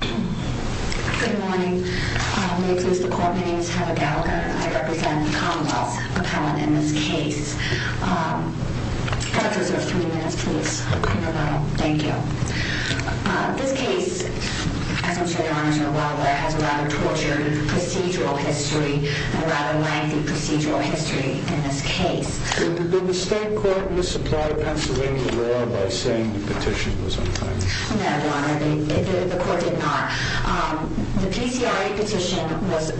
Good morning. My name is Heather Gallagher. I represent the Commonwealth Appellant in this case. I'll reserve three minutes, please. Thank you. This case, as most of the honors know well, has a rather tortured procedural history, a rather lengthy procedural history in this case. Did the state court misapply Pennsylvania law by saying the petition was unfinished? No, Your Honor, the court did not. The PCIA petition was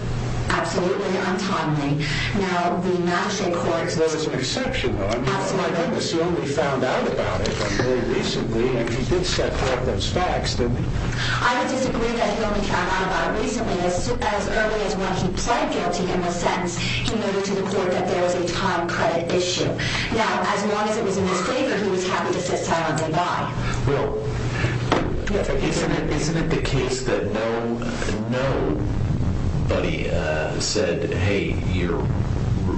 absolutely untimely. Now, the matcha court... There was a perception, though. I mean, I assume he found out about it from very recently. I mean, he did set forth those facts, didn't he? I would disagree that he only found out about it recently. As early as when he pled guilty in the sentence, he noted to the court that there was a time credit issue. Now, as long as it was in his favor, he was happy to sit silently by. Well, isn't it the case that nobody said, hey, your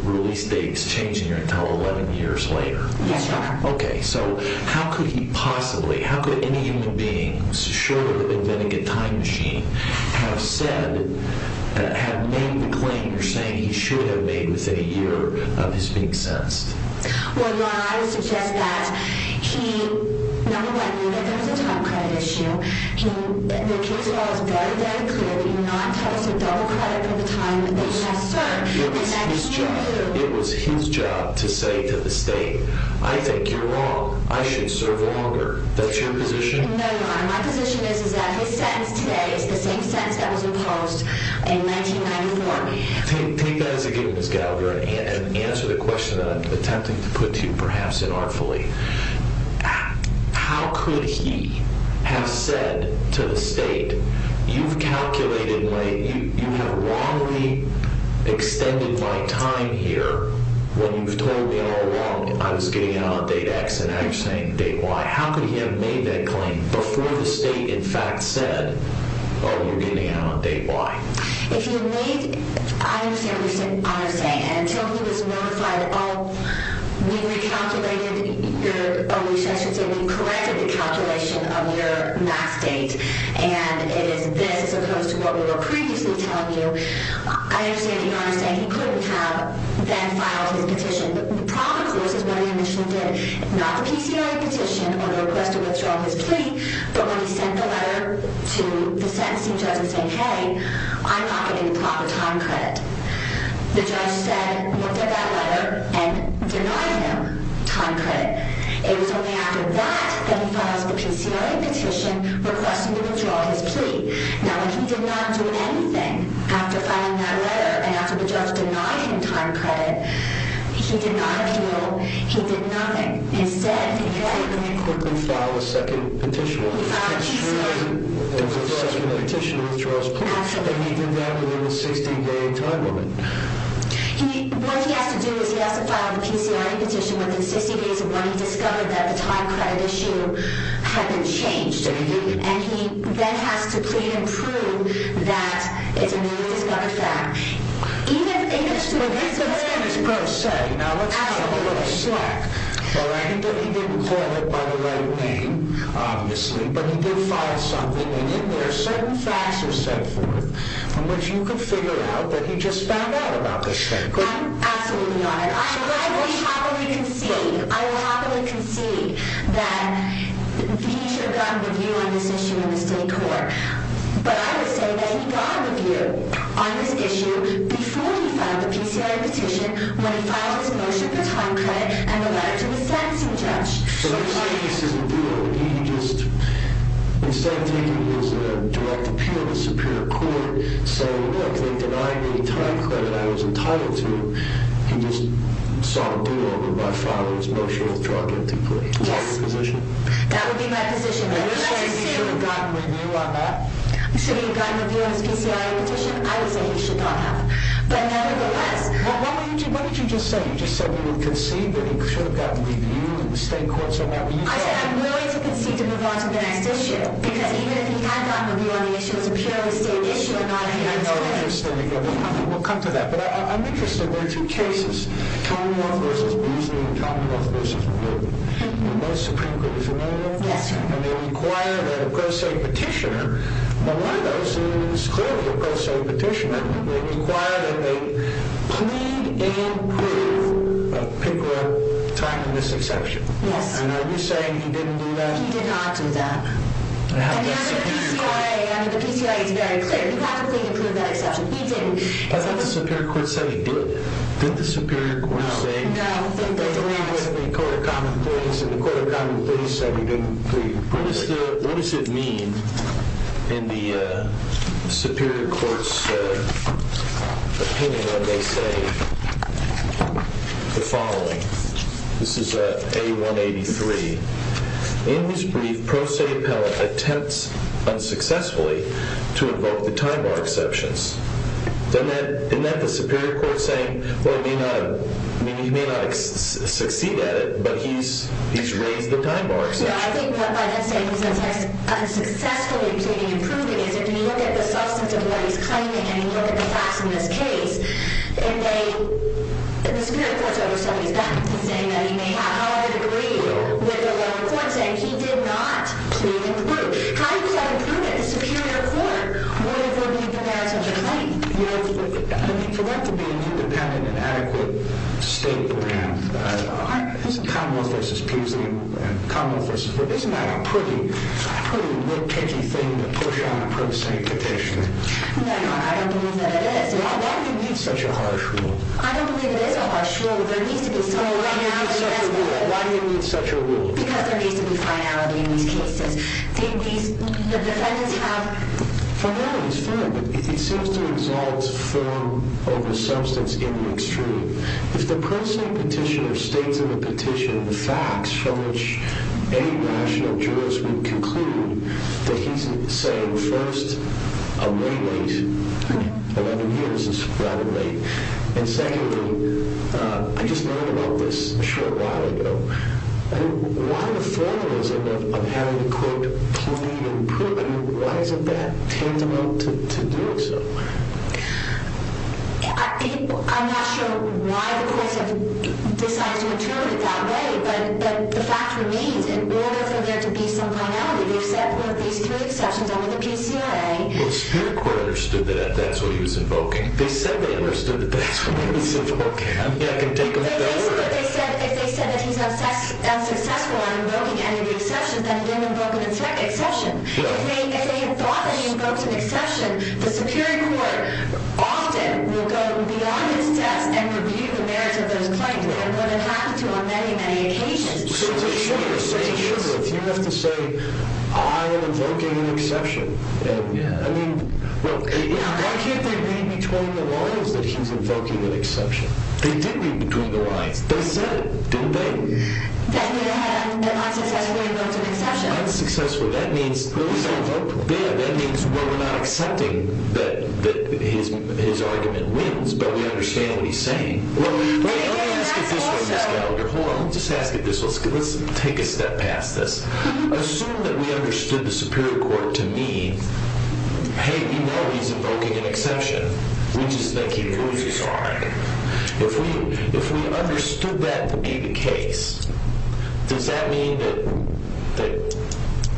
release date is changing until 11 years later? Yes, Your Honor. Okay, so how could he possibly, how could any human being, surely living in a time machine, have said, have made the claim you're saying he should have made within a year of his being sentenced? Well, Your Honor, I would suggest that he, number one, knew that there was a time credit issue. The case law is very, very clear that you're not supposed to double credit for the time that you have served. It was his job to say to the state, I think you're wrong. I should serve longer. That's your position? No, Your Honor, my position is that his sentence today is the same sentence that was imposed in 1994. Take that as a given, Ms. Gallagher, and answer the question that I'm attempting to put to you perhaps inartfully. How could he have said to the state, you've calculated, you have wrongly extended my time here when you've told me all along I was getting out on date X and now you're saying date Y. How could he have made that claim before the state in fact said, oh, you're getting out on date Y? If you need, I understand what you're saying, and until he was notified, oh, we recalculated, or I should say we corrected the calculation of your max date, and it is this as opposed to what we were previously telling you, I understand you're saying he couldn't have then filed his petition. The problem, of course, is what he initially did, not the PCI petition or the request to withdraw his plea, but when he sent the letter to the sentencing judge and said, hey, I'm not getting the proper time credit, the judge said, looked at that letter and denied him time credit. It was only after that that he filed the PCI petition requesting to withdraw his plea. Now, when he did not do anything after filing that letter and after the judge denied him time credit, he did not appeal. He did nothing. Instead, he very quickly filed a second petition. He filed a second petition to withdraw his plea. Absolutely. And he did that within a 60-day time limit. What he has to do is he has to file the PCI petition within 60 days of when he discovered that the time credit issue had been changed, and he then has to plead and prove that it's a new discovery fact. That's what his prose said. Now, let's have a little slack. Well, I think that he didn't call it by the right name, obviously, but he did file something, and in there, certain facts are set forth from which you can figure out that he just found out about this thing, couldn't you? Absolutely not. I will happily concede that he should have gotten a review on this issue in the state court, but I would say that he got a review on this issue before he filed the PCI petition, when he filed his motion for time credit and the letter to the sentencing judge. So, let me tell you, this is a duo. He just, instead of taking his direct appeal to the superior court, saying, look, they denied me time credit I was entitled to, he just saw a duo when I filed his motion for time credit to plead. Yes. That's his position. That would be my position. So, you're saying he should have gotten a review on that? Should he have gotten a review on his PCI petition? I would say he should not have. But, nevertheless. What did you just say? You just said we would concede that he should have gotten a review in the state courts on that? I said I'm willing to concede to move on to the next issue, because even if he had gotten a review on the issue, it was a purely state issue and not a human rights issue. I know. We'll come to that. But, I'm interested. There are two cases, Common Law v. Boosley and Common Law v. McGill. Most Supreme Court is familiar with them? Yes, sir. And, they require that a pro se petitioner, one of those is clearly a pro se petitioner, they require that they plead and prove a picker-up time in this exception. Yes. And, are you saying he didn't do that? He did not do that. And, the PCIA is very clear. He practically approved that exception. He didn't. I thought the superior court said he did. Did the superior court say? No. I don't think they agree with the Court of Common Pleas. And, the Court of Common Pleas said he didn't plead. What does it mean in the superior court's opinion when they say the following? This is A-183. In his brief, pro se appellant attempts unsuccessfully to invoke the time bar exceptions. Isn't that the superior court saying, well, he may not succeed at it, but he's raised the time bar exception? No, I think by that saying, he's unsuccessfully pleading and proving, is if you look at the substance of what he's claiming, and you look at the facts in this case, the superior court's over somebody's back. He's saying that he may have, however, agreed with the lower court saying he did not plead and prove. How did he not prove it? In the superior court, whatever he provides on the claim. For that to be an independent and adequate state, perhaps, Common Law v. Peasley and Common Law v. Wood, isn't that a pretty nitpicky thing to push on a pro se petition? No, I don't believe that it is. Why do you need such a harsh rule? I don't believe it is a harsh rule. There needs to be some finality. Why do you need such a rule? Because there needs to be finality in these cases. The defendants have finality. It's fine, but it seems to exalt form over substance in the extreme. If the pro se petitioner states in the petition the facts from which any national jurist would conclude that he's saying, first, I'm late, 11 years is rather late. And secondly, I just learned about this a short while ago. Why the formalism of having the court plead and prove? Why isn't that tantamount to doing so? I'm not sure why the courts have decided to interpret it that way, but the fact remains, in order for there to be some finality, they've set one of these three exceptions over the PCIA. The superior court understood that that's what he was invoking. They said they understood that that's what he was invoking. If they said that he's unsuccessful in invoking any of the exceptions, then he didn't invoke an exception. If they thought that he invoked an exception, the superior court often will go beyond his test and review the merits of those claims, and would have had to on many, many occasions. So to sum it up, you have to say, I am invoking an exception. I mean, why can't they read between the lines that he's invoking an exception? They did read between the lines. They said it, didn't they? That he had unsuccessfully invoked an exception. Unsuccessfully. That means, well, we're not accepting that his argument wins, but we understand what he's saying. Let me ask it this way, Ms. Gallagher. Hold on. Let me just ask it this way. Let's take a step past this. Assume that we understood the superior court to mean, hey, we know he's invoking an exception. We just think he loses, all right? If we understood that to be the case, does that mean that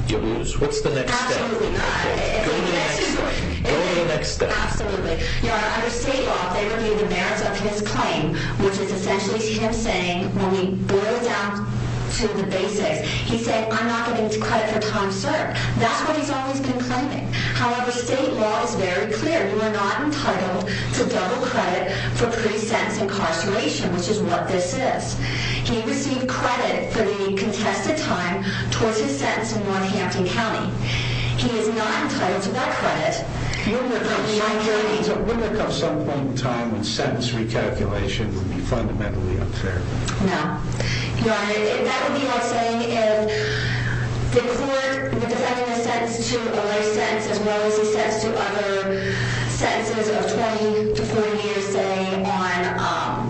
you lose? What's the next step? Absolutely not. Go to the next step. Absolutely. Under state law, they review the merits of his claim, which is essentially him saying, when we boil it down to the basics, he said, I'm not giving credit for Tom Surd. That's what he's always been claiming. However, state law is very clear. You are not entitled to double credit for pre-sentence incarceration, which is what this is. He received credit for the contested time towards his sentence in Northampton County. He is not entitled to that credit. Wouldn't there come some point in time when sentence recalculation would be fundamentally unfair? No. Your Honor, that would be like saying if the court were defending his sentence to a life sentence as well as his sentence to other sentences of 20 to 40 years, say, on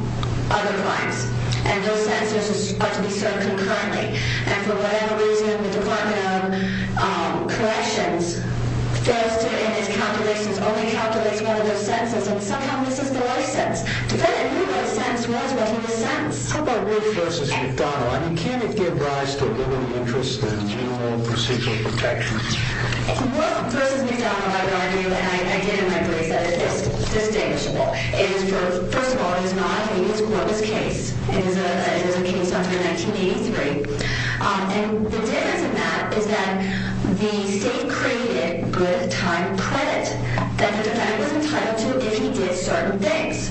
other crimes. And those sentences are to be served concurrently. And for whatever reason, the Department of Corrections, in its calculations, only calculates one of those sentences. And sometimes this is the life sentence. The defendant knew what a sentence was when he was sentenced. How about Wolf v. McDonnell? I mean, can't it give rise to a limited interest in new procedural protections? Wolf v. McDonnell, I would argue, and I get it in my brain, is that it is distinguishable. First of all, it is not. He wrote his case. It was a case under 1983. And the difference in that is that the state created good time credit that the defendant was entitled to if he did certain things,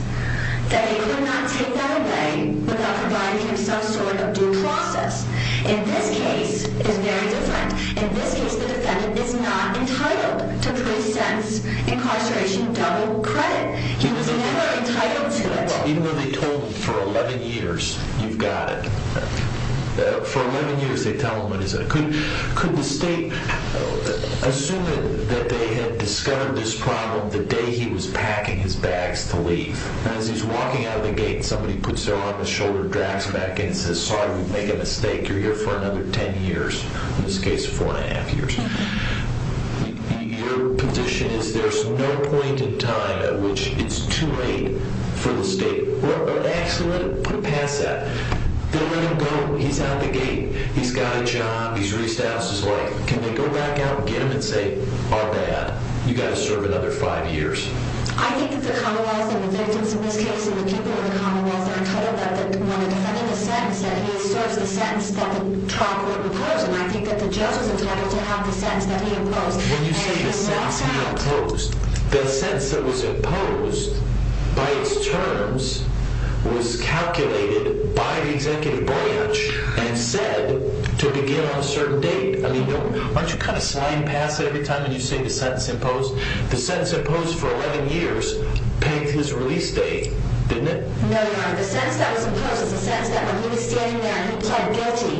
that he could not take that away without providing him some sort of due process. In this case, it's very different. In this case, the defendant is not entitled to three cents incarceration double credit. He was never entitled to it. Even when they told him for 11 years, you've got it, for 11 years they tell him what is it. I mean, could the state, assuming that they had discovered this problem the day he was packing his bags to leave, and as he's walking out of the gate and somebody puts their arm on his shoulder and drags him back in and says, sorry, we've made a mistake, you're here for another 10 years, in this case 4 1⁄2 years. Your position is there's no point in time at which it's too late for the state, or actually let him put a pass at it. They'll let him go. He's out of the gate. He's got a job. He's reached out. He's like, can we go back out and get him and say, our bad, you've got to serve another five years. I think that the Commonwealth and the victims in this case and the people in the Commonwealth are entitled, that when a defendant is sentenced, that he serves the sentence that the trial court imposed, and I think that the judge was entitled to have the sentence that he imposed. When you say the sentence he imposed, the sentence that was imposed by its terms was calculated by the executive branch and said to begin on a certain date. Aren't you kind of sliding past it every time you say the sentence imposed? The sentence imposed for 11 years paved his release date, didn't it? No, Your Honor. The sentence that was imposed is the sentence that when he was standing there and he pleaded guilty,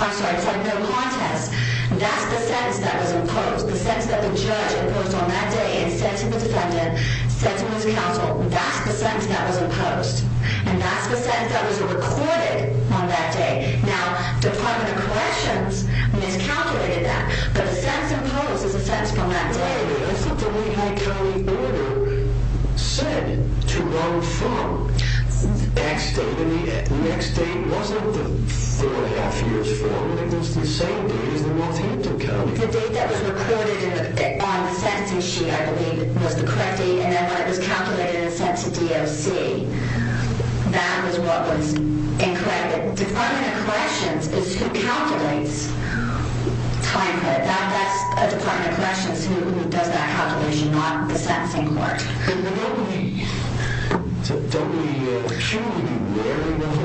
I'm sorry, he pleaded no contest. That's the sentence that was imposed, the sentence that the judge imposed on that day, and sentencing the defendant, sentencing his counsel, that's the sentence that was imposed. And that's the sentence that was recorded on that day. Now, Department of Corrections miscalculated that. But the sentence imposed is the sentence from that day. But isn't the Lehigh County order said to run from the next date? And the next date wasn't the four and a half years from, it was the same date as the North Hampton County. The date that was recorded on the sentencing sheet, I believe, was the correct date, and then when it was calculated and sent to DOC, that was what was incorrect. Department of Corrections is who calculates time. That's a Department of Corrections who does that calculation, not the sentencing court. And don't we, shouldn't we be wary enough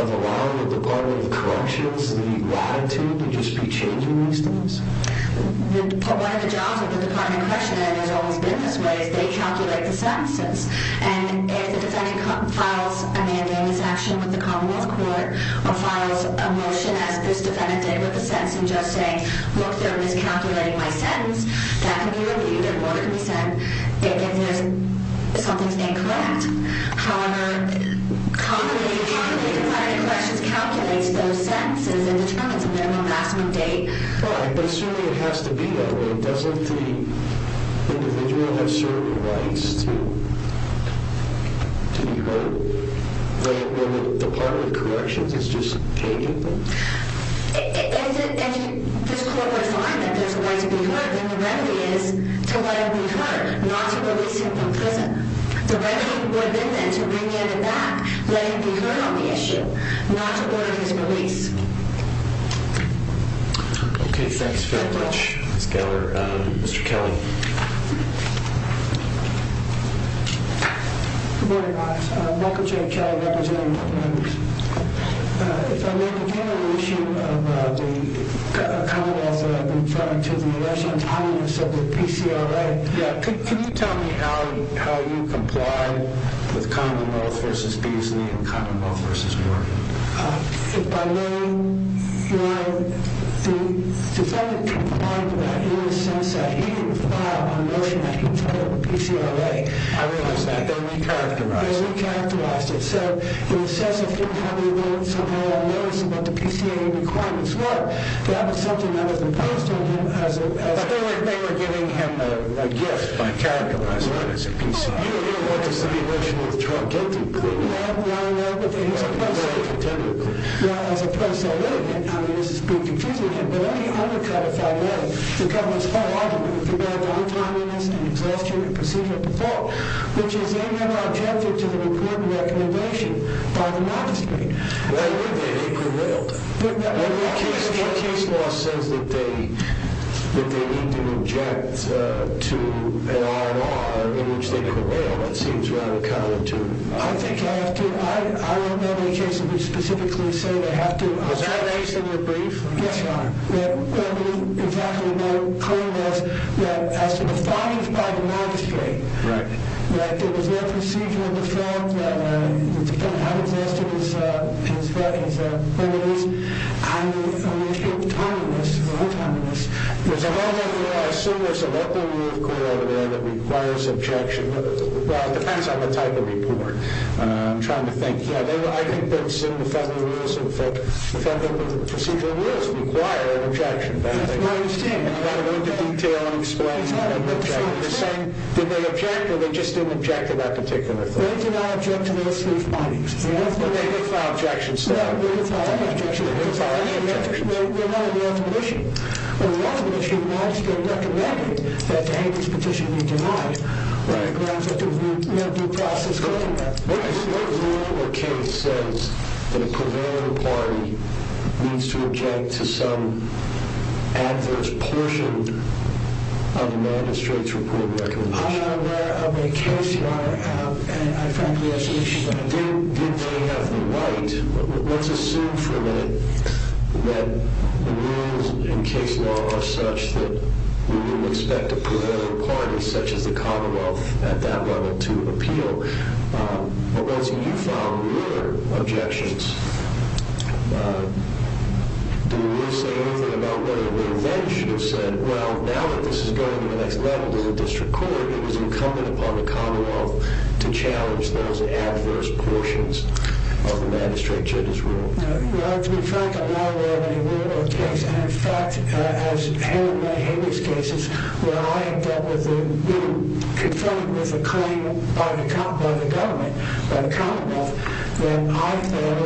of allowing the Department of Corrections the latitude to just be changing these things? One of the jobs of the Department of Corrections, and there's always been this way, is they calculate the sentences. And if the defendant files a mandamus action with the Commonwealth Court, or files a motion as this defendant did with the sentence, and just saying, look, they're miscalculating my sentence, that can be reviewed and what can be said if something's incorrect. However, the Department of Corrections calculates those sentences and determines a minimum lasting date. Right, but certainly it has to be that way. Doesn't the individual have certain rights to be heard? The Department of Corrections is just changing them? If this court were to find that there's a right to be heard, then the remedy is to let him be heard, not to release him from prison. The remedy would then be to bring him back, let him be heard on the issue, not to order his release. Okay, thanks very much, Ms. Geller. Mr. Kelly. Good morning, guys. Michael J. Kelly, representing Portland. If I may begin on the issue of the Commonwealth that I've been referring to, the arrest on tolerance of the PCRA. Yeah, can you tell me how you complied with Commonwealth v. Beasley and Commonwealth v. Warren? If I may, the defendant complied with that in the sense that he didn't file a motion that controlled the PCRA. I realize that. They recharacterized it. They recharacterized it. They said he was self-defeating. However, somehow I noticed that the PCRA requirements weren't. That was something that was imposed on him as a... But they were giving him a gift by characterizing it as a PCRA. Oh, you don't know what to say. The motion of the trial gave it to me. Well, I know, but then he's a person. Well, as a person, I know. I mean, this is being confusing again. But let me undercut it, if I may. The government is quite open with regard to untimeliness and exhaustion and procedure of the fall, which is a non-objective to the report and recommendation by the magistrate. Why would they? They quarelled. What case law says that they need to object to an R&R in which they quarelled? It seems rather counterintuitive. I think I have to. I don't know of any cases which specifically say they have to. Was that case in your brief? Yes, Your Honor. Exactly. Their claim was that as defined by the magistrate, that there was no procedure of the fall, that it depended on how exhausted he was, and the issue of timeliness, or untimeliness. There's a whole other law, I assume there's a local rule of code out there that requires objection. Well, it depends on the type of report. I'm trying to think. I think that's in the Federal Rules of Procedure. The rules require an objection. That's my understanding. You've got to go into detail and explain. You're saying, did they object, or they just didn't object to that particular thing? They did not object to those brief findings. But they did file an objection, still. They did file an objection. They did file an objection. We're not on the ultimate issue. On the ultimate issue, the magistrate recommended that the Hager's petition be denied, on the grounds that there was no due process going on. What rule or case says that a prevailing party needs to object to some adverse portion of the magistrate's report and recommendation? I'm not aware of any case, Your Honor. I frankly have some issues with that. Did they have the right? Let's assume for a minute that the rules in case law are such that we would expect a prevailing party, such as the Commonwealth, at that level, to appeal. But once you file your objections, do you say anything about whether they then should have said, well, now that this is going to the next level to the district court, it is incumbent upon the Commonwealth to challenge those adverse portions of the magistrate judge's rule? Your Honor, to be frank, I'm not aware of any rule or case. In fact, as in many cases, where I have dealt with a claim by the government, by the Commonwealth, that I fail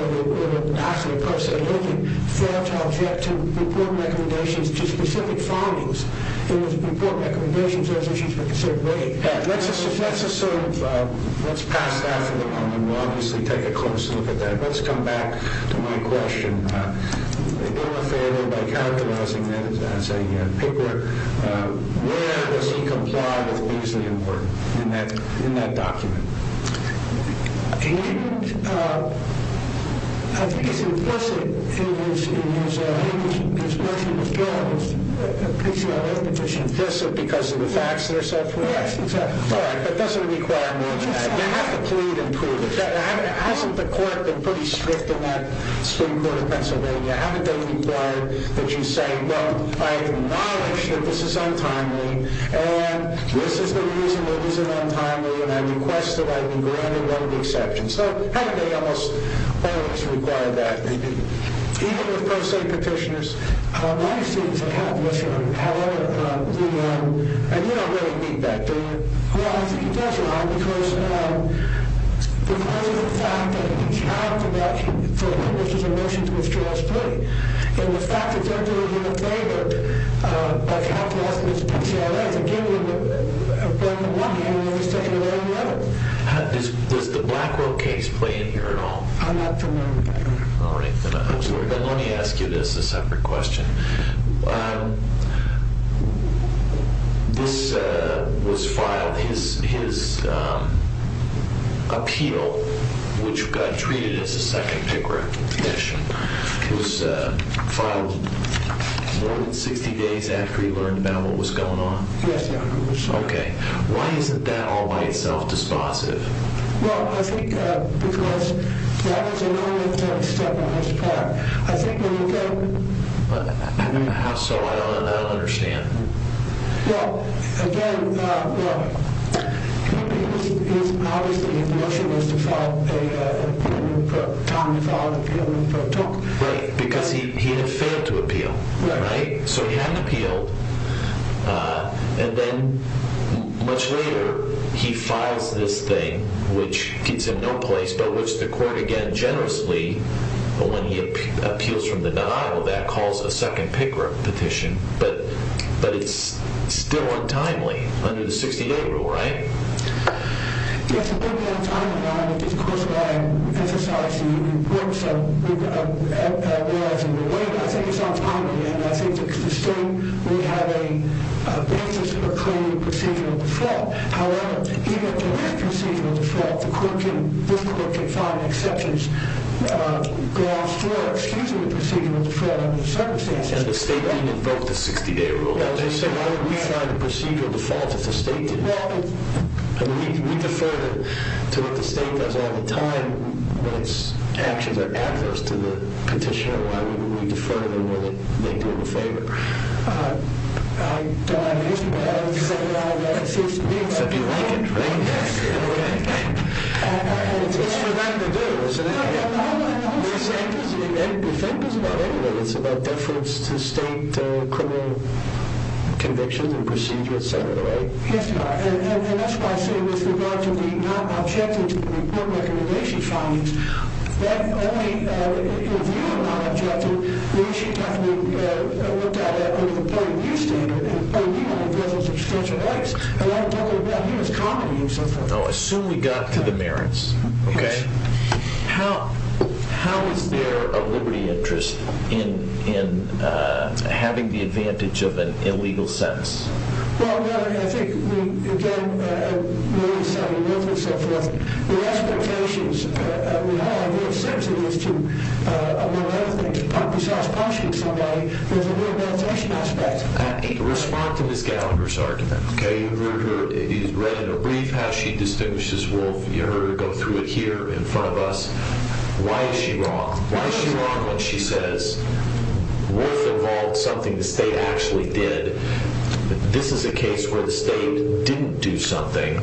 to object to report recommendations to specific findings. If there were to be report recommendations, those issues would be considered weighted. Let's assume, let's pass that for the moment. We'll obviously take a closer look at that. Let's come back to my question. In your favor, by characterizing that as a pickler, where does he comply with Beasley and Wharton in that document? He didn't. He's implicit in his notion of guilt. He's implicit because of the facts and so forth? Yes, exactly. All right, but does it require more than that? You have to plead and prove it. Hasn't the court been pretty strict in that Supreme Court of Pennsylvania? Haven't they required that you say, well, I acknowledge that this is untimely, and this is the reason it isn't untimely, and I request that I be granted one of the exceptions. So, haven't they almost always required that? They didn't. Even with pro se petitioners, my students have had this one. However, you know, and you don't really need that, do you? Well, I think it does, Your Honor, because of the fact that he's had from that, which was a motion to withdraw his plea, and the fact that they're doing him a favor by characterizing it as a pickler, is again, on the one hand, he's taking away the evidence. Does the Blackwell case play in here at all? I'm not familiar with that, Your Honor. All right, then I'm sorry, but let me ask you this, a separate question. This was filed, his appeal, which got treated as a second picker petition, was filed more than 60 days after he learned about what was going on? Yes, Your Honor. Okay. Why isn't that all by itself dispositive? Well, I think because that was a normative step on his part. How so? I don't understand. Well, again, look, obviously the motion was to file an appeal, but Tom filed an appeal for a talk. Right, because he had failed to appeal, right? Right. So he hadn't appealed, and then much later, he files this thing, which gives him no place, but which the court, again, generously, when he appeals from the denial of that, calls a second picker petition. But it's still untimely under the 68 rule, right? Yes, it may be untimely, Your Honor, because, of course, I emphasize the importance of realizing the weight. I think it's untimely, and I think the state would have a basis for claiming procedural default. However, even if there is procedural default, this court can find exceptions grounds for excusing the procedural default under the circumstances. And the state didn't invoke the 68 rule. So why would we find a procedural default if the state did? I mean, we defer to what the state does all the time when its actions are adverse to the petitioner. Why would we defer to them when they do him a favor? I don't understand. If you like it, right? It's for them to do, isn't it? We think it's about everything. It's about deference to state criminal convictions and procedures, et cetera, right? Yes, Your Honor. And that's why I say with regard to the non-objecting to the report recommendation findings, that only if you are non-objecting, we should have to look at it under the point of view standard and point of view on the presence of substantial rights. And I'm talking about humus comedy and stuff like that. I assume we got to the merits. Okay. How is there a liberty interest in having the advantage of an illegal sentence? Well, Your Honor, I think we, again, the expectations we have are sensitive to, among other things, but besides punishing somebody, there's a rehabilitation aspect. Respond to Ms. Gallagher's argument, okay? You heard her. You read in her brief how she distinguishes Wolfe. You heard her go through it here in front of us. Why is she wrong? Why is she wrong when she says Wolfe involved something the state actually did? This is a case where the state didn't do something,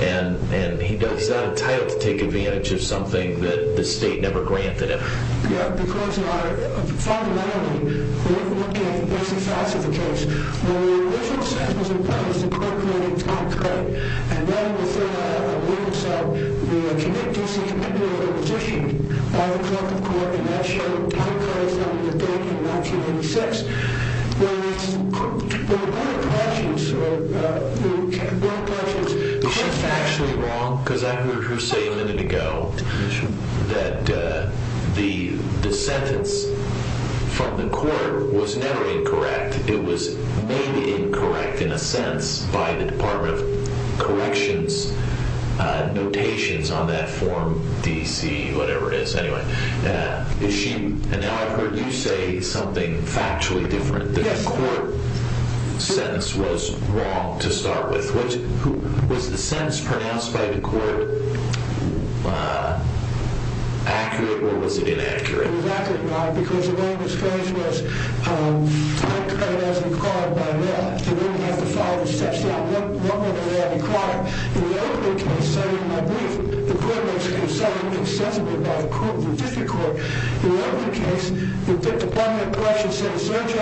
and he's not entitled to take advantage of something that the state never granted him. Because, Your Honor, fundamentally, we're looking at the basic facts of the case. When the original sentence was imposed, the court granted time credit. And then within a week or so, the D.C. Commitment Order was issued by the clerk of court, and that showed time credit from the date in 1986. When the court approaches, or the court approaches, Is she factually wrong? Because I heard her say a minute ago that the sentence from the court was never incorrect. It was made incorrect, in a sense, by the Department of Corrections notations on that form, D.C., whatever it is. Anyway, is she? And now I've heard you say something factually different, that the court sentence was wrong to start with. Was the sentence pronounced by the court accurate, or was it inaccurate? It was accurate, Your Honor, because the name of the case was time credit as required by law. They didn't have to follow the steps. Now, what were they required? In the opening case, cited in my brief, the court makes a concession, made sensible by the court, the district court. In the opening case, the Department of Corrections said, In the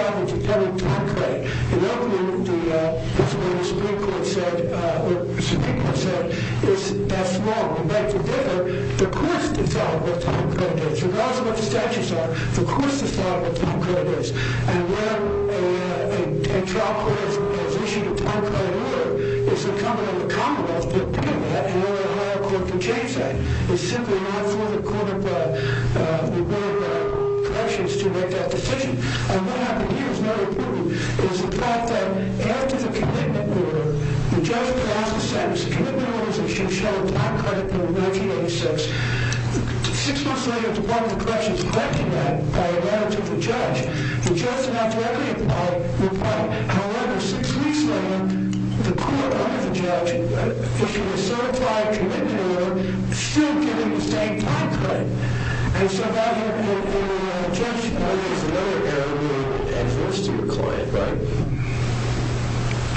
opening, the Supreme Court said, The Supreme Court said, The court's decided what time credit is. Regardless of what the statutes are, the court's decided what time credit is. And when a trial court has issued a time credit order, it's incumbent on the Commonwealth to do that, and only a higher court can change that. It's simply not for the court of corrections to make that decision. What happened here is noteworthy. It's the fact that after the commitment order, the judge passed the sentence. The commitment order issued a time credit order in 1986. Six months later, the Department of Corrections granted that by a manager to the judge. The judge did not directly reply. However, six weeks later, the court, under the judge, issued a certified commitment order, still giving the same time credit. And so, Judge, there's another area that adheres to your client, right?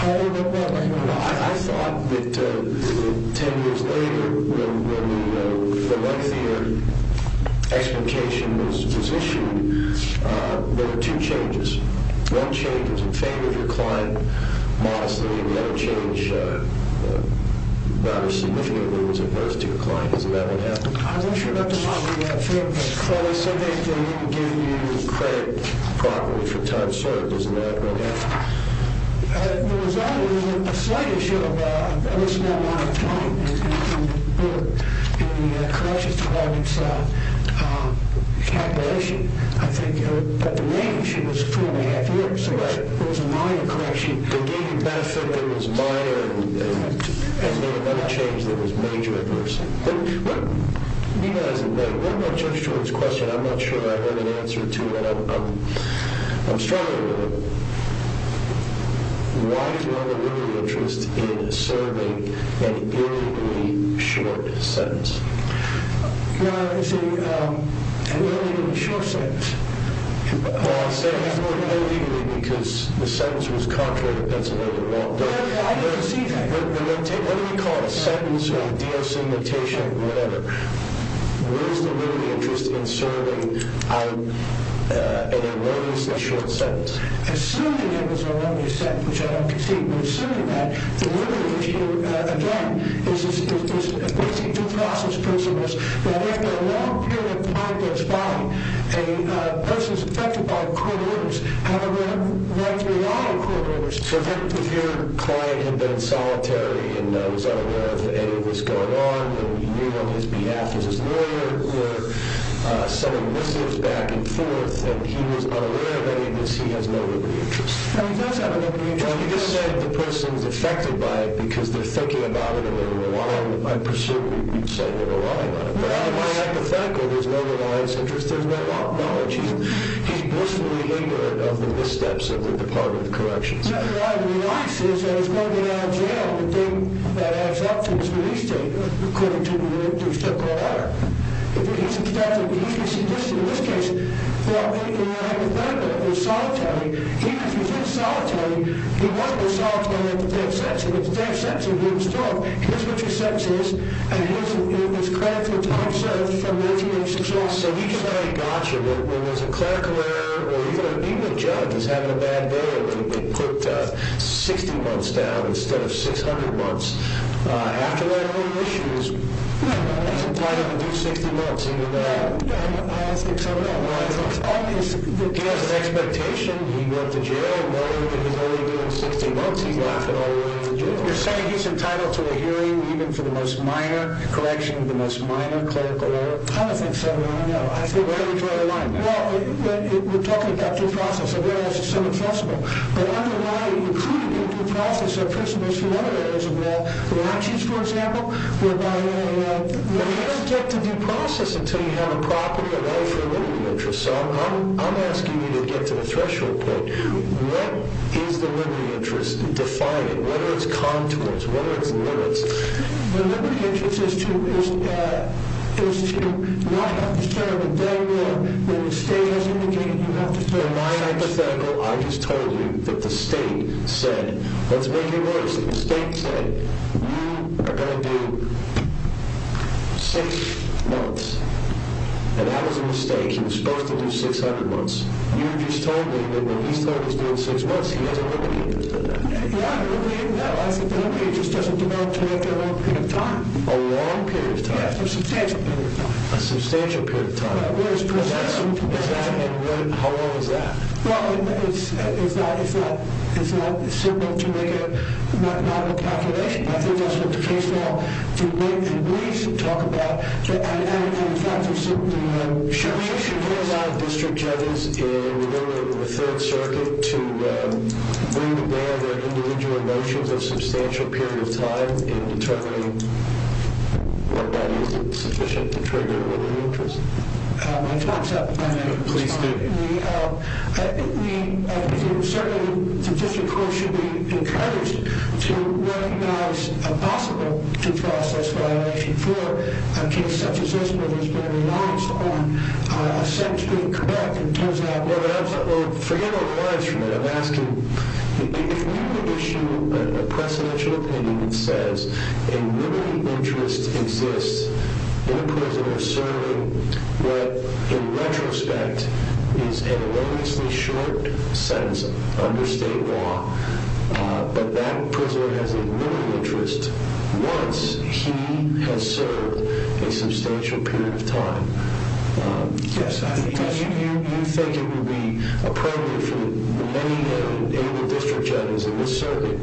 I thought that ten years later, when the lengthier explication was issued, there were two changes. One change was in favor of your client. Modestly, we had a change that was significantly in favor of your client. Is that what happened? I'm not sure about the moderate favor. Well, they said they didn't give you credit properly for time served. Isn't that what happened? The result is a slight issue of a reasonable amount of time. In the corrections department's calculation, I think that the main issue was four and a half years. Right. It was a minor correction. They gave you benefit that was minor and made another change that was major adverse. One more judge's choice question. I'm not sure I have an answer to it. I'm struggling with it. Why is there a legal interest in serving an illegally short sentence? It's an illegally short sentence. Well, I'm saying it's more illegally because the sentence was contrary to Pennsylvania law. I didn't see that. What do we call it, a sentence or a de-assignmentation or whatever? Where is the legal interest in serving an illegally short sentence? Assuming it was an illegally sentence, which I don't concede, but assuming that, the legal issue, again, is a basic due process principle that after a long period of time goes by, a person is affected by court orders, however, likely not a court order. So if your client had been solitary and was unaware of any of this going on, but we knew on his behalf he was his lawyer, we're sending missives back and forth, and he was unaware of any of this, he has no legal interest. He does have a legal interest. You just said the person's affected by it because they're thinking about it and they're relying on it. I presume you'd say they're relying on it. But I'm hypothetical. There's no reliance interest. There's no knowledge. He's blissfully ignorant of the missteps of the Department of Corrections. Even the judge is having a bad day. They put 60 months down instead of 600 months. After that whole issue, he's entitled to do 60 months. I don't think so, no. He has an expectation. He went to jail knowing that he's only doing 60 months. He left it all the way to jail. You're saying he's entitled to a hearing even for the most minor correction, the most minor clerical error? I don't think so, no. Where are we drawing the line? Well, we're talking about due process. I realize it's so accessible. But underlying, including in due process, are principles from other areas of law. Reactions, for example, whereby you don't get to due process until you have a property, a right for a liberty interest. So I'm asking you to get to the threshold point. What is the liberty interest defining? What are its contours? What are its limits? The liberty interest is to not have to serve a day more than the state has indicated you have to serve. In my hypothetical, I just told you that the state said, let's make it worse, that the state said you are going to do six months. And that was a mistake. He was supposed to do 600 months. You just told me that when he's told he's doing six months, he has a liberty interest. Yeah, nobody even knows. The liberty interest doesn't develop to make a long period of time. A long period of time? Yeah, a substantial period of time. A substantial period of time. How long is that? Well, it's not simple to make a mathematical calculation. I think that's what the case law, to make and release and talk about. And the fact of the matter, should we allow district judges in the third circuit to bring to bear their individual motions a substantial period of time in determining whether that is sufficient to trigger a liberty interest? My time is up. Please do. Certainly, the district court should be encouraged to recognize a possible due process violation for a case such as this where there has been a reliance on a sentence being correct in terms of that. Well, forget all the lines from that. I'm asking, if we were to issue a presidential opinion that says a liberty interest exists, that a prisoner is serving what, in retrospect, is an erroneously short sentence under state law, but that prisoner has a liberty interest once he has served a substantial period of time. Yes, I think that's true. You think it would be appropriate for many able district judges in this circuit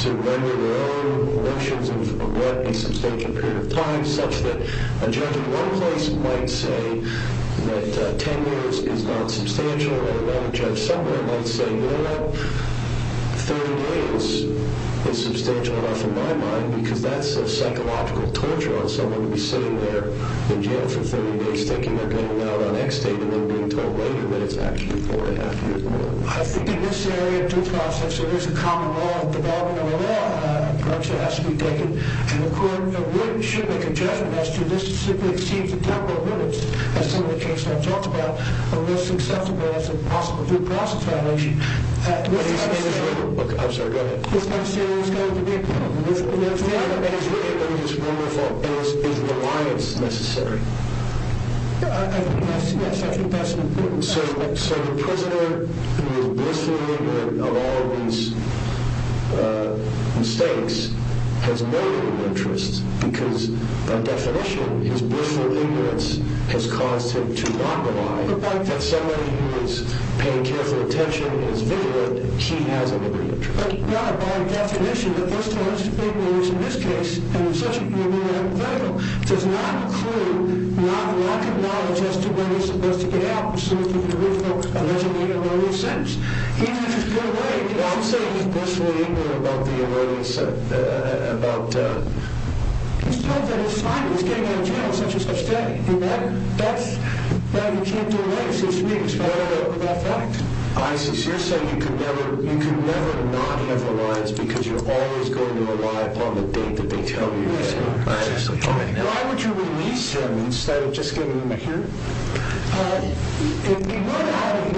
to render their own motions of what a substantial period of time, such that a judge in one place might say that 10 years is not substantial, and another judge somewhere might say, you know what, 30 days is substantial enough in my mind, because that's a psychological torture on someone to be sitting there in jail for 30 days thinking they're getting out on extate and then being told later that it's actually four and a half years more. I think in this area of due process, there is a common law, a development of a law, which has to be taken. And the Court of Written should make a judgment as to this simply exceeds the temporal limits, as some of the cases I've talked about, of what's acceptable as a possible due process violation. I'm sorry, go ahead. This kind of scenario is going to be a problem. I don't think it's really a limit, it's more of a, is reliance necessary? I think that's actually best and important. So the prisoner who is blissfully ignorant of all of these mistakes has no legal interest, because by definition, his blissful ignorance has caused him to not rely on the fact that somebody who is paying careful attention and is vigilant, he has a legal interest. But by definition, the person who is being released in this case, and in such a case, does not include lack of knowledge as to when he's supposed to get out, which seems to be the original allegedly erroneous sentence. Even if he's been away, I'm saying he's blissfully ignorant about the erroneous sentence. He's told that he's fine, he's getting out of jail on such-and-such day. That's why he can't do away with his mistakes, by way of that fact. I sincerely say you can never not have reliance because you're always going to rely upon the date Why would you release him instead of just giving him a hearing? If he were to have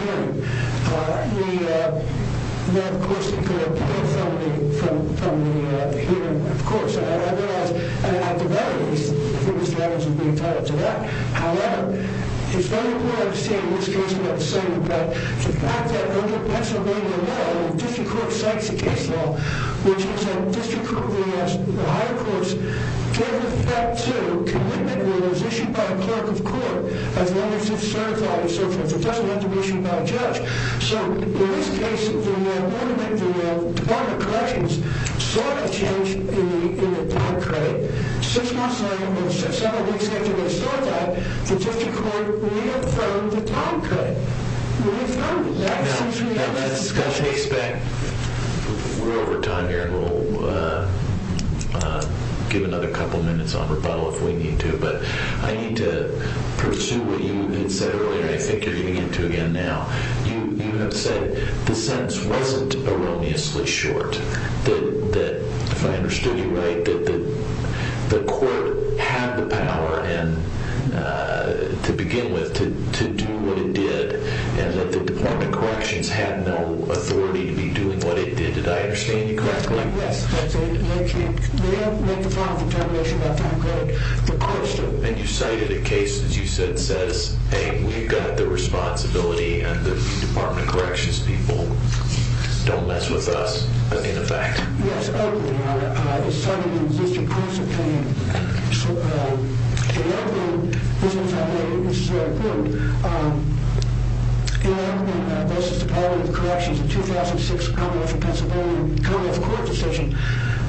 a hearing, then of course it could have been from the hearing, of course. At the very least, I think Mr. Evans would be entitled to that. However, it's very important to understand in this case, we have to say that the fact that Pennsylvania law, the district court cites a case law, which is that the district court, the higher courts, gave respect to commitment rules issued by a clerk of court, as long as it's certified and so forth. It doesn't have to be issued by a judge. In this case, the Department of Corrections saw a change in the time credit. Six months later, or several weeks after they saw that, the district court reaffirmed the time credit. We're over time here, and we'll give another couple minutes on rebuttal if we need to. But I need to pursue what you had said earlier. I think you're getting into it again now. You have said the sentence wasn't erroneously short. If I understood you right, that the court had the power to begin with, to do what it did, and that the Department of Corrections had no authority to be doing what it did. Did I understand you correctly? Yes. They don't make the final determination about time credit. And you cited a case that you said says, hey, we've got the responsibility and the Department of Corrections people don't mess with us, in effect. Yes, openly, Your Honor. It's cited in the district court's opinion. And openly, this is very important. In the case of the Department of Corrections, the 2006 Commonwealth of Pennsylvania Commonwealth Court decision,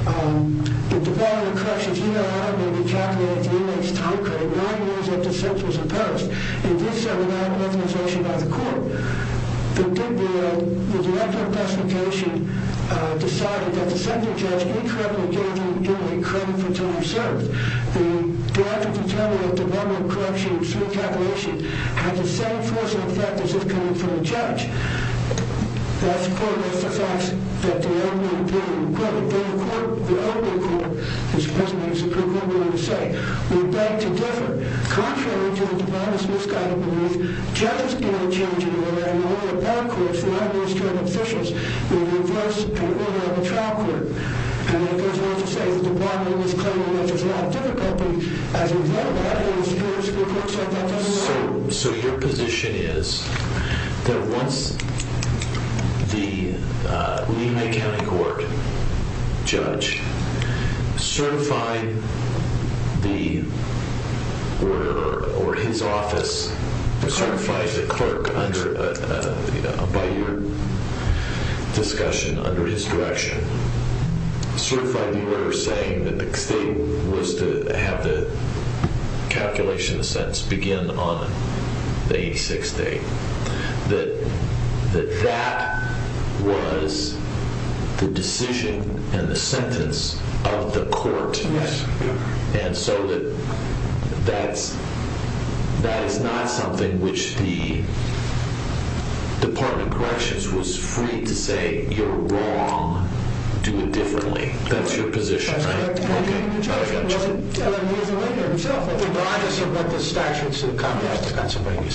the Department of Corrections, you know how it may be calculated for inmates' time credit, nine years after sentence was imposed. And this was not an authorization by the court. The district court, the director of justification, decided that the second judge incorrectly gave the inmate credit for time served. The director of determination at the Department of Corrections, through calculation, had the same force of effect as if it came from a judge. That's part of the facts that the inmate being acquitted. The inmate court, as the President of the District Court will later say, would beg to differ. Contrary to the Department's misguided belief, judges can't change the order. And the way the bar courts, the non-administrative officials, will reverse the order of the trial court. And there's no need to say that the Department is claiming that there's a lot of difficulty. As we've read about it in the district courts, that doesn't matter. So your position is that once the Lehigh County Court judge certified the order, or his office certified the clerk, by your discussion, under his direction, certified the order saying that the state was to have the calculation of the sentence begin on the 86th day, that that was the decision and the sentence of the court. And so that is not something which the Department of Corrections was free to say, you're wrong, do it differently. That's your position, right? Okay, I got you.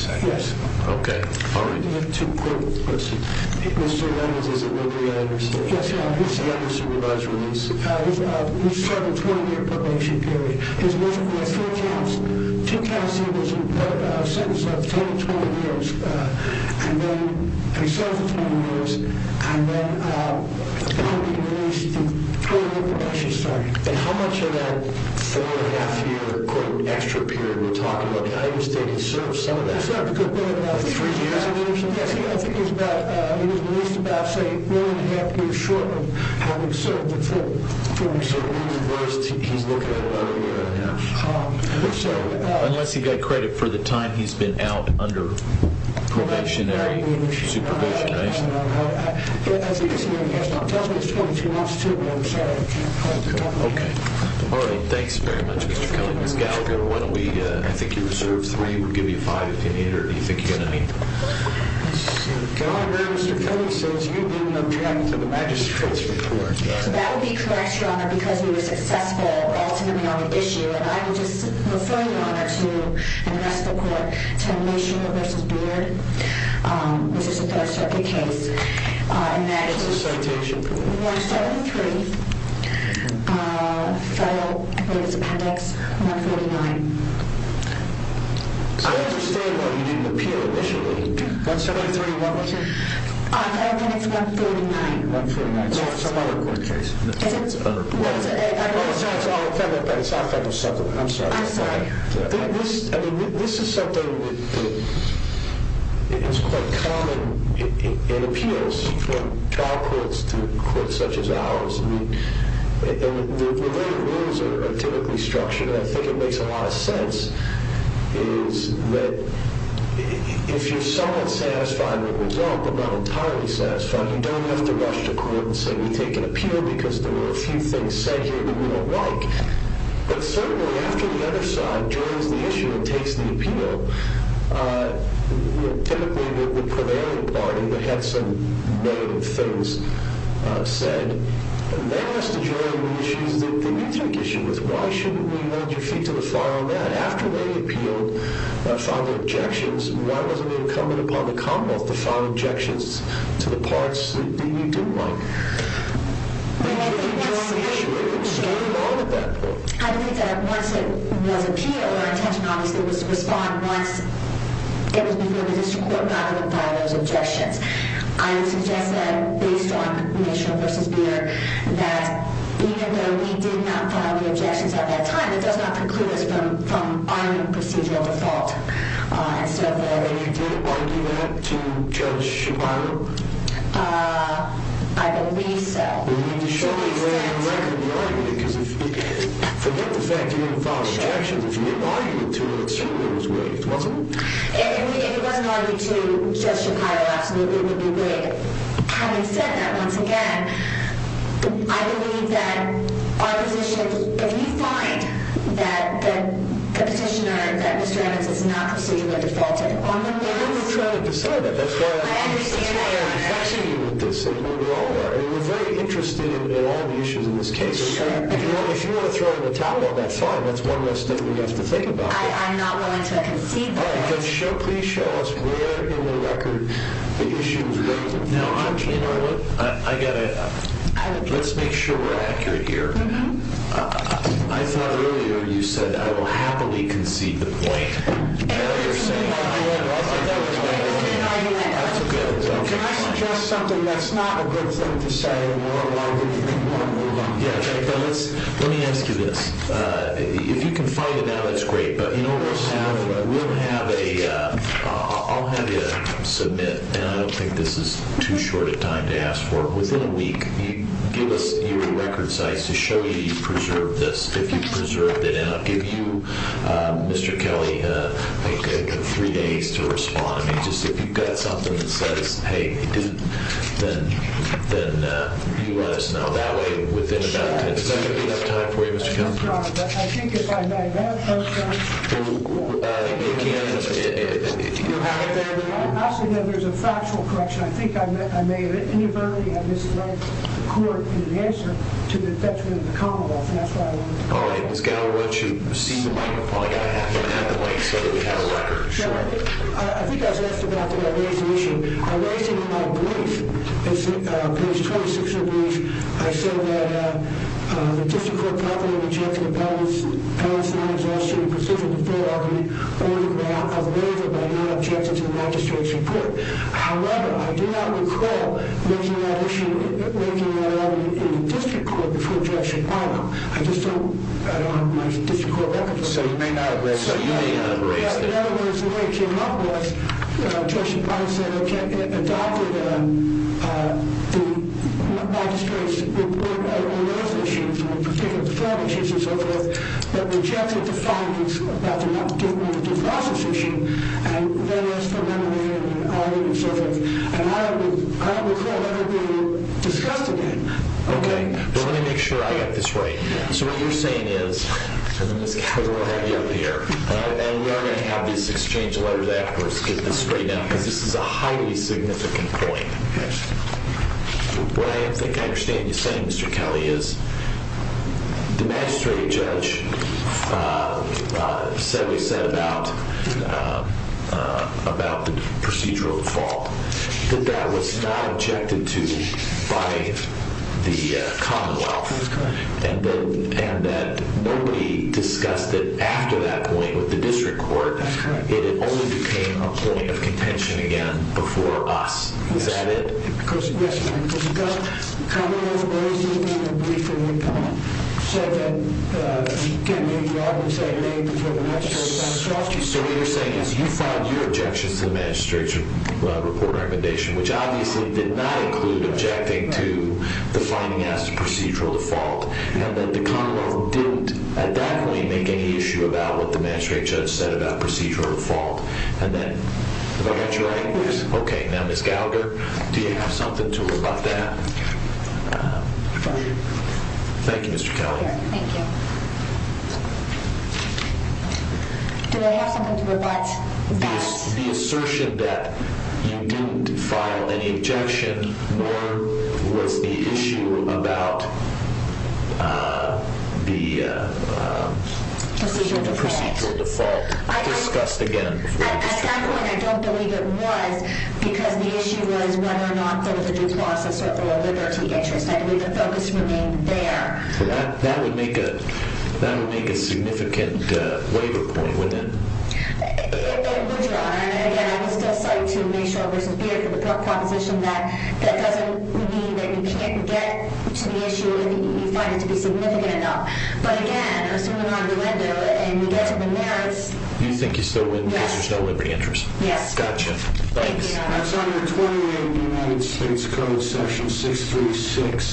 Yes. Okay, all right. How much of that four-and-a-half-year extra period we're talking about, how do you state he served some of that? He served a good bit of that. Three years of it or something? I think he was released about, say, four-and-a-half years short of having served the full term. So he's looking at about a year and a half. Unless he got credit for the time he's been out under probationary supervision, right? I think it's more than he has now. It tells me it's 22 months, too, but I'm sorry. Okay. All right, thanks very much, Mr. Kelly. Ms. Gallagher, why don't we, I think you're reserved three. We'll give you five if you need it, or do you think you're going to need it? That would be correct, Your Honor, because we were successful ultimately on the issue. And I would just refer you, Your Honor, to the rest of the court, to Meishner v. Beard, which is a Third Circuit case. And that is 173, fellow, I believe it's Appendix 149. I understand why you didn't appeal initially. 173, what was it? I think it's 149. 149. It's on some other court case. I'm sorry. I'm sorry. I mean, this is something that is quite common in appeals, from trial courts to courts such as ours. I mean, the way the rules are typically structured, and I think it makes a lot of sense, is that if you're somewhat satisfied with the result but not entirely satisfied, you don't have to rush to court and say, we take an appeal because there were a few things said here that we don't like. But certainly after the other side joins the issue and takes the appeal, typically the prevailing party that had some negative things said, they have to join the issues that you took issue with. Why shouldn't we hold your feet to the fire on that? After they appealed, filed their objections, why wasn't it incumbent upon the Commonwealth to file objections to the parts that you didn't like? I think that once it was appealed, our intention obviously was to respond once it was before the district court and not have them file those objections. I would suggest that based on initial versus mere, that even though we did not file the objections at that time, it does not preclude us from arming procedural default. And you didn't argue that to Judge Shapiro? I believe so. Surely then you're not going to be arguing it, because forget the fact you didn't file objections. If you didn't argue it to him, it certainly was waived, wasn't it? If it wasn't argued to Judge Shapiro, absolutely, it would be waived. Having said that, once again, I believe that our position, if you find that the petitioner, Mr. Evans, is not procedurally defaulted on the case, I understand that, Your Honor. That's why I'm asking you with this. We're very interested in all the issues in this case. If you want to throw in the towel, that's fine. That's one less thing we have to think about. I'm not willing to concede that. Please show us where in the record the issue was waived. Now, I'm keen on it. Let's make sure we're accurate here. I thought earlier you said, I will happily concede the point. Can I suggest something that's not a good thing to say? Let me ask you this. If you can find it now, that's great. I'll have you submit, and I don't think this is too short a time to ask for, within a week, give us your record size to show you you've preserved this, if you've preserved it. I'll give you, Mr. Kelly, three days to respond. If you've got something that says, hey, it didn't, then you let us know. That way, within about 10 seconds, we'll have time for you, Mr. Kelly. Yes, Your Honor. I think, if I may, that approach, Your Honor, there's a factual correction. I think I may inadvertently have misled the court in the answer to the detriment of the Commonwealth. That's why I wanted to know. All right. Ms. Gallo, why don't you receive the microphone? I have to have the mic so that we have a record. Sure. I think I was asked about the waives issue. I raised it in my brief. It's page 26 of the brief. I said that the district court confidently rejected the balance of non-exhaustion, the precision deferred argument, only because I was wavered by your objections to the magistrate's report. However, I do not recall making that issue, making that argument in the district court before Judge Shapiro. I just don't, I don't have my district court record for that. So you may not have raised it. Yes. In other words, the way it came up was Judge Shapiro said, okay, it adopted the magistrate's report on those issues, in particular, the farm issues and so forth, but rejected the findings about the non-exhaustion issue. And that is from memory and argument and so forth. And I don't recall that ever being discussed again. Okay. But let me make sure I get this right. So what you're saying is, and then Ms. Kelly will help you out here, and we are going to have this exchange of letters afterwards to get this straightened out, because this is a highly significant point. Okay. What I think I understand you saying, Mr. Kelly, is the magistrate judge said what he said about the procedural default, that that was not objected to by the Commonwealth, and that nobody discussed it after that point with the district court. Okay. It only became a point of contention again before us. Is that it? Yes. The Commonwealth, in their briefing, said that, again, the argument said it made before the magistrate judge. So what you're saying is you filed your objections to the magistrate's report recommendation, which obviously did not include objecting to the finding as procedural default, and that the Commonwealth didn't at that point make any issue about what the magistrate judge said about procedural default. And then, if I got you right, okay. Now, Ms. Gallagher, do you have something to rebut that? Thank you, Mr. Kelly. Thank you. Do I have something to rebut that? The assertion that you didn't file any objection, nor was the issue about the procedural default discussed again. At that point, I don't believe it was, because the issue was whether or not there was a due process or a full liberty interest. I believe the focus remained there. That would make a significant waiver point, wouldn't it? It would, Your Honor. And, again, I'm still psyched to make sure there's a fear for the proposition that that doesn't mean that you can't get to the issue if you find it to be significant enough. But, again, assuming I'm relentless and we get to the merits. Do you think you still win because there's no liberty interest? Yes. Got you. Thanks. That's under 28 United States Code, Section 636B,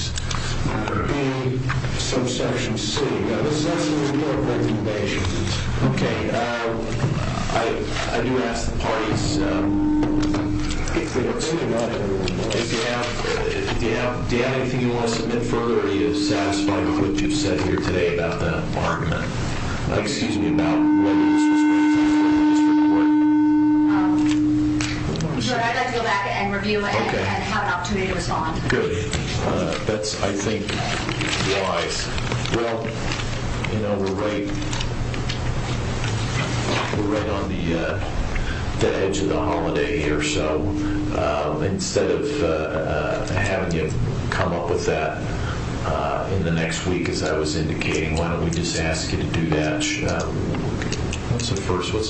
Subsection C. Now, this has to do more with recommendations. Okay. I do ask the parties if they want to take it on a little more. Do you have anything you want to submit further? Your Honor, I would like to go back and review and have an opportunity to respond. Good. That's, I think, wise. Well, you know, we're right on the edge of the holiday here. So instead of having you come up with that in the next week, as I was indicating, why don't we just ask you to do that? What's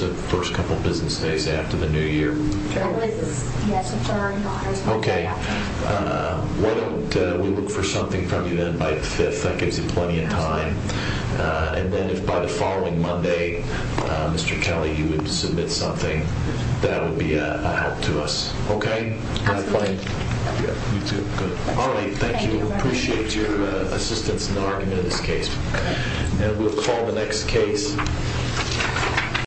the first couple business days after the New Year? I believe it's December, Your Honor. Okay. Why don't we look for something from you then by the 5th? That gives you plenty of time. And then if by the following Monday, Mr. Kelly, you would submit something, that would be a help to us. Okay? Absolutely. You too. Good. Arlene, thank you. Appreciate your assistance in the argument of this case. And we'll call the next case.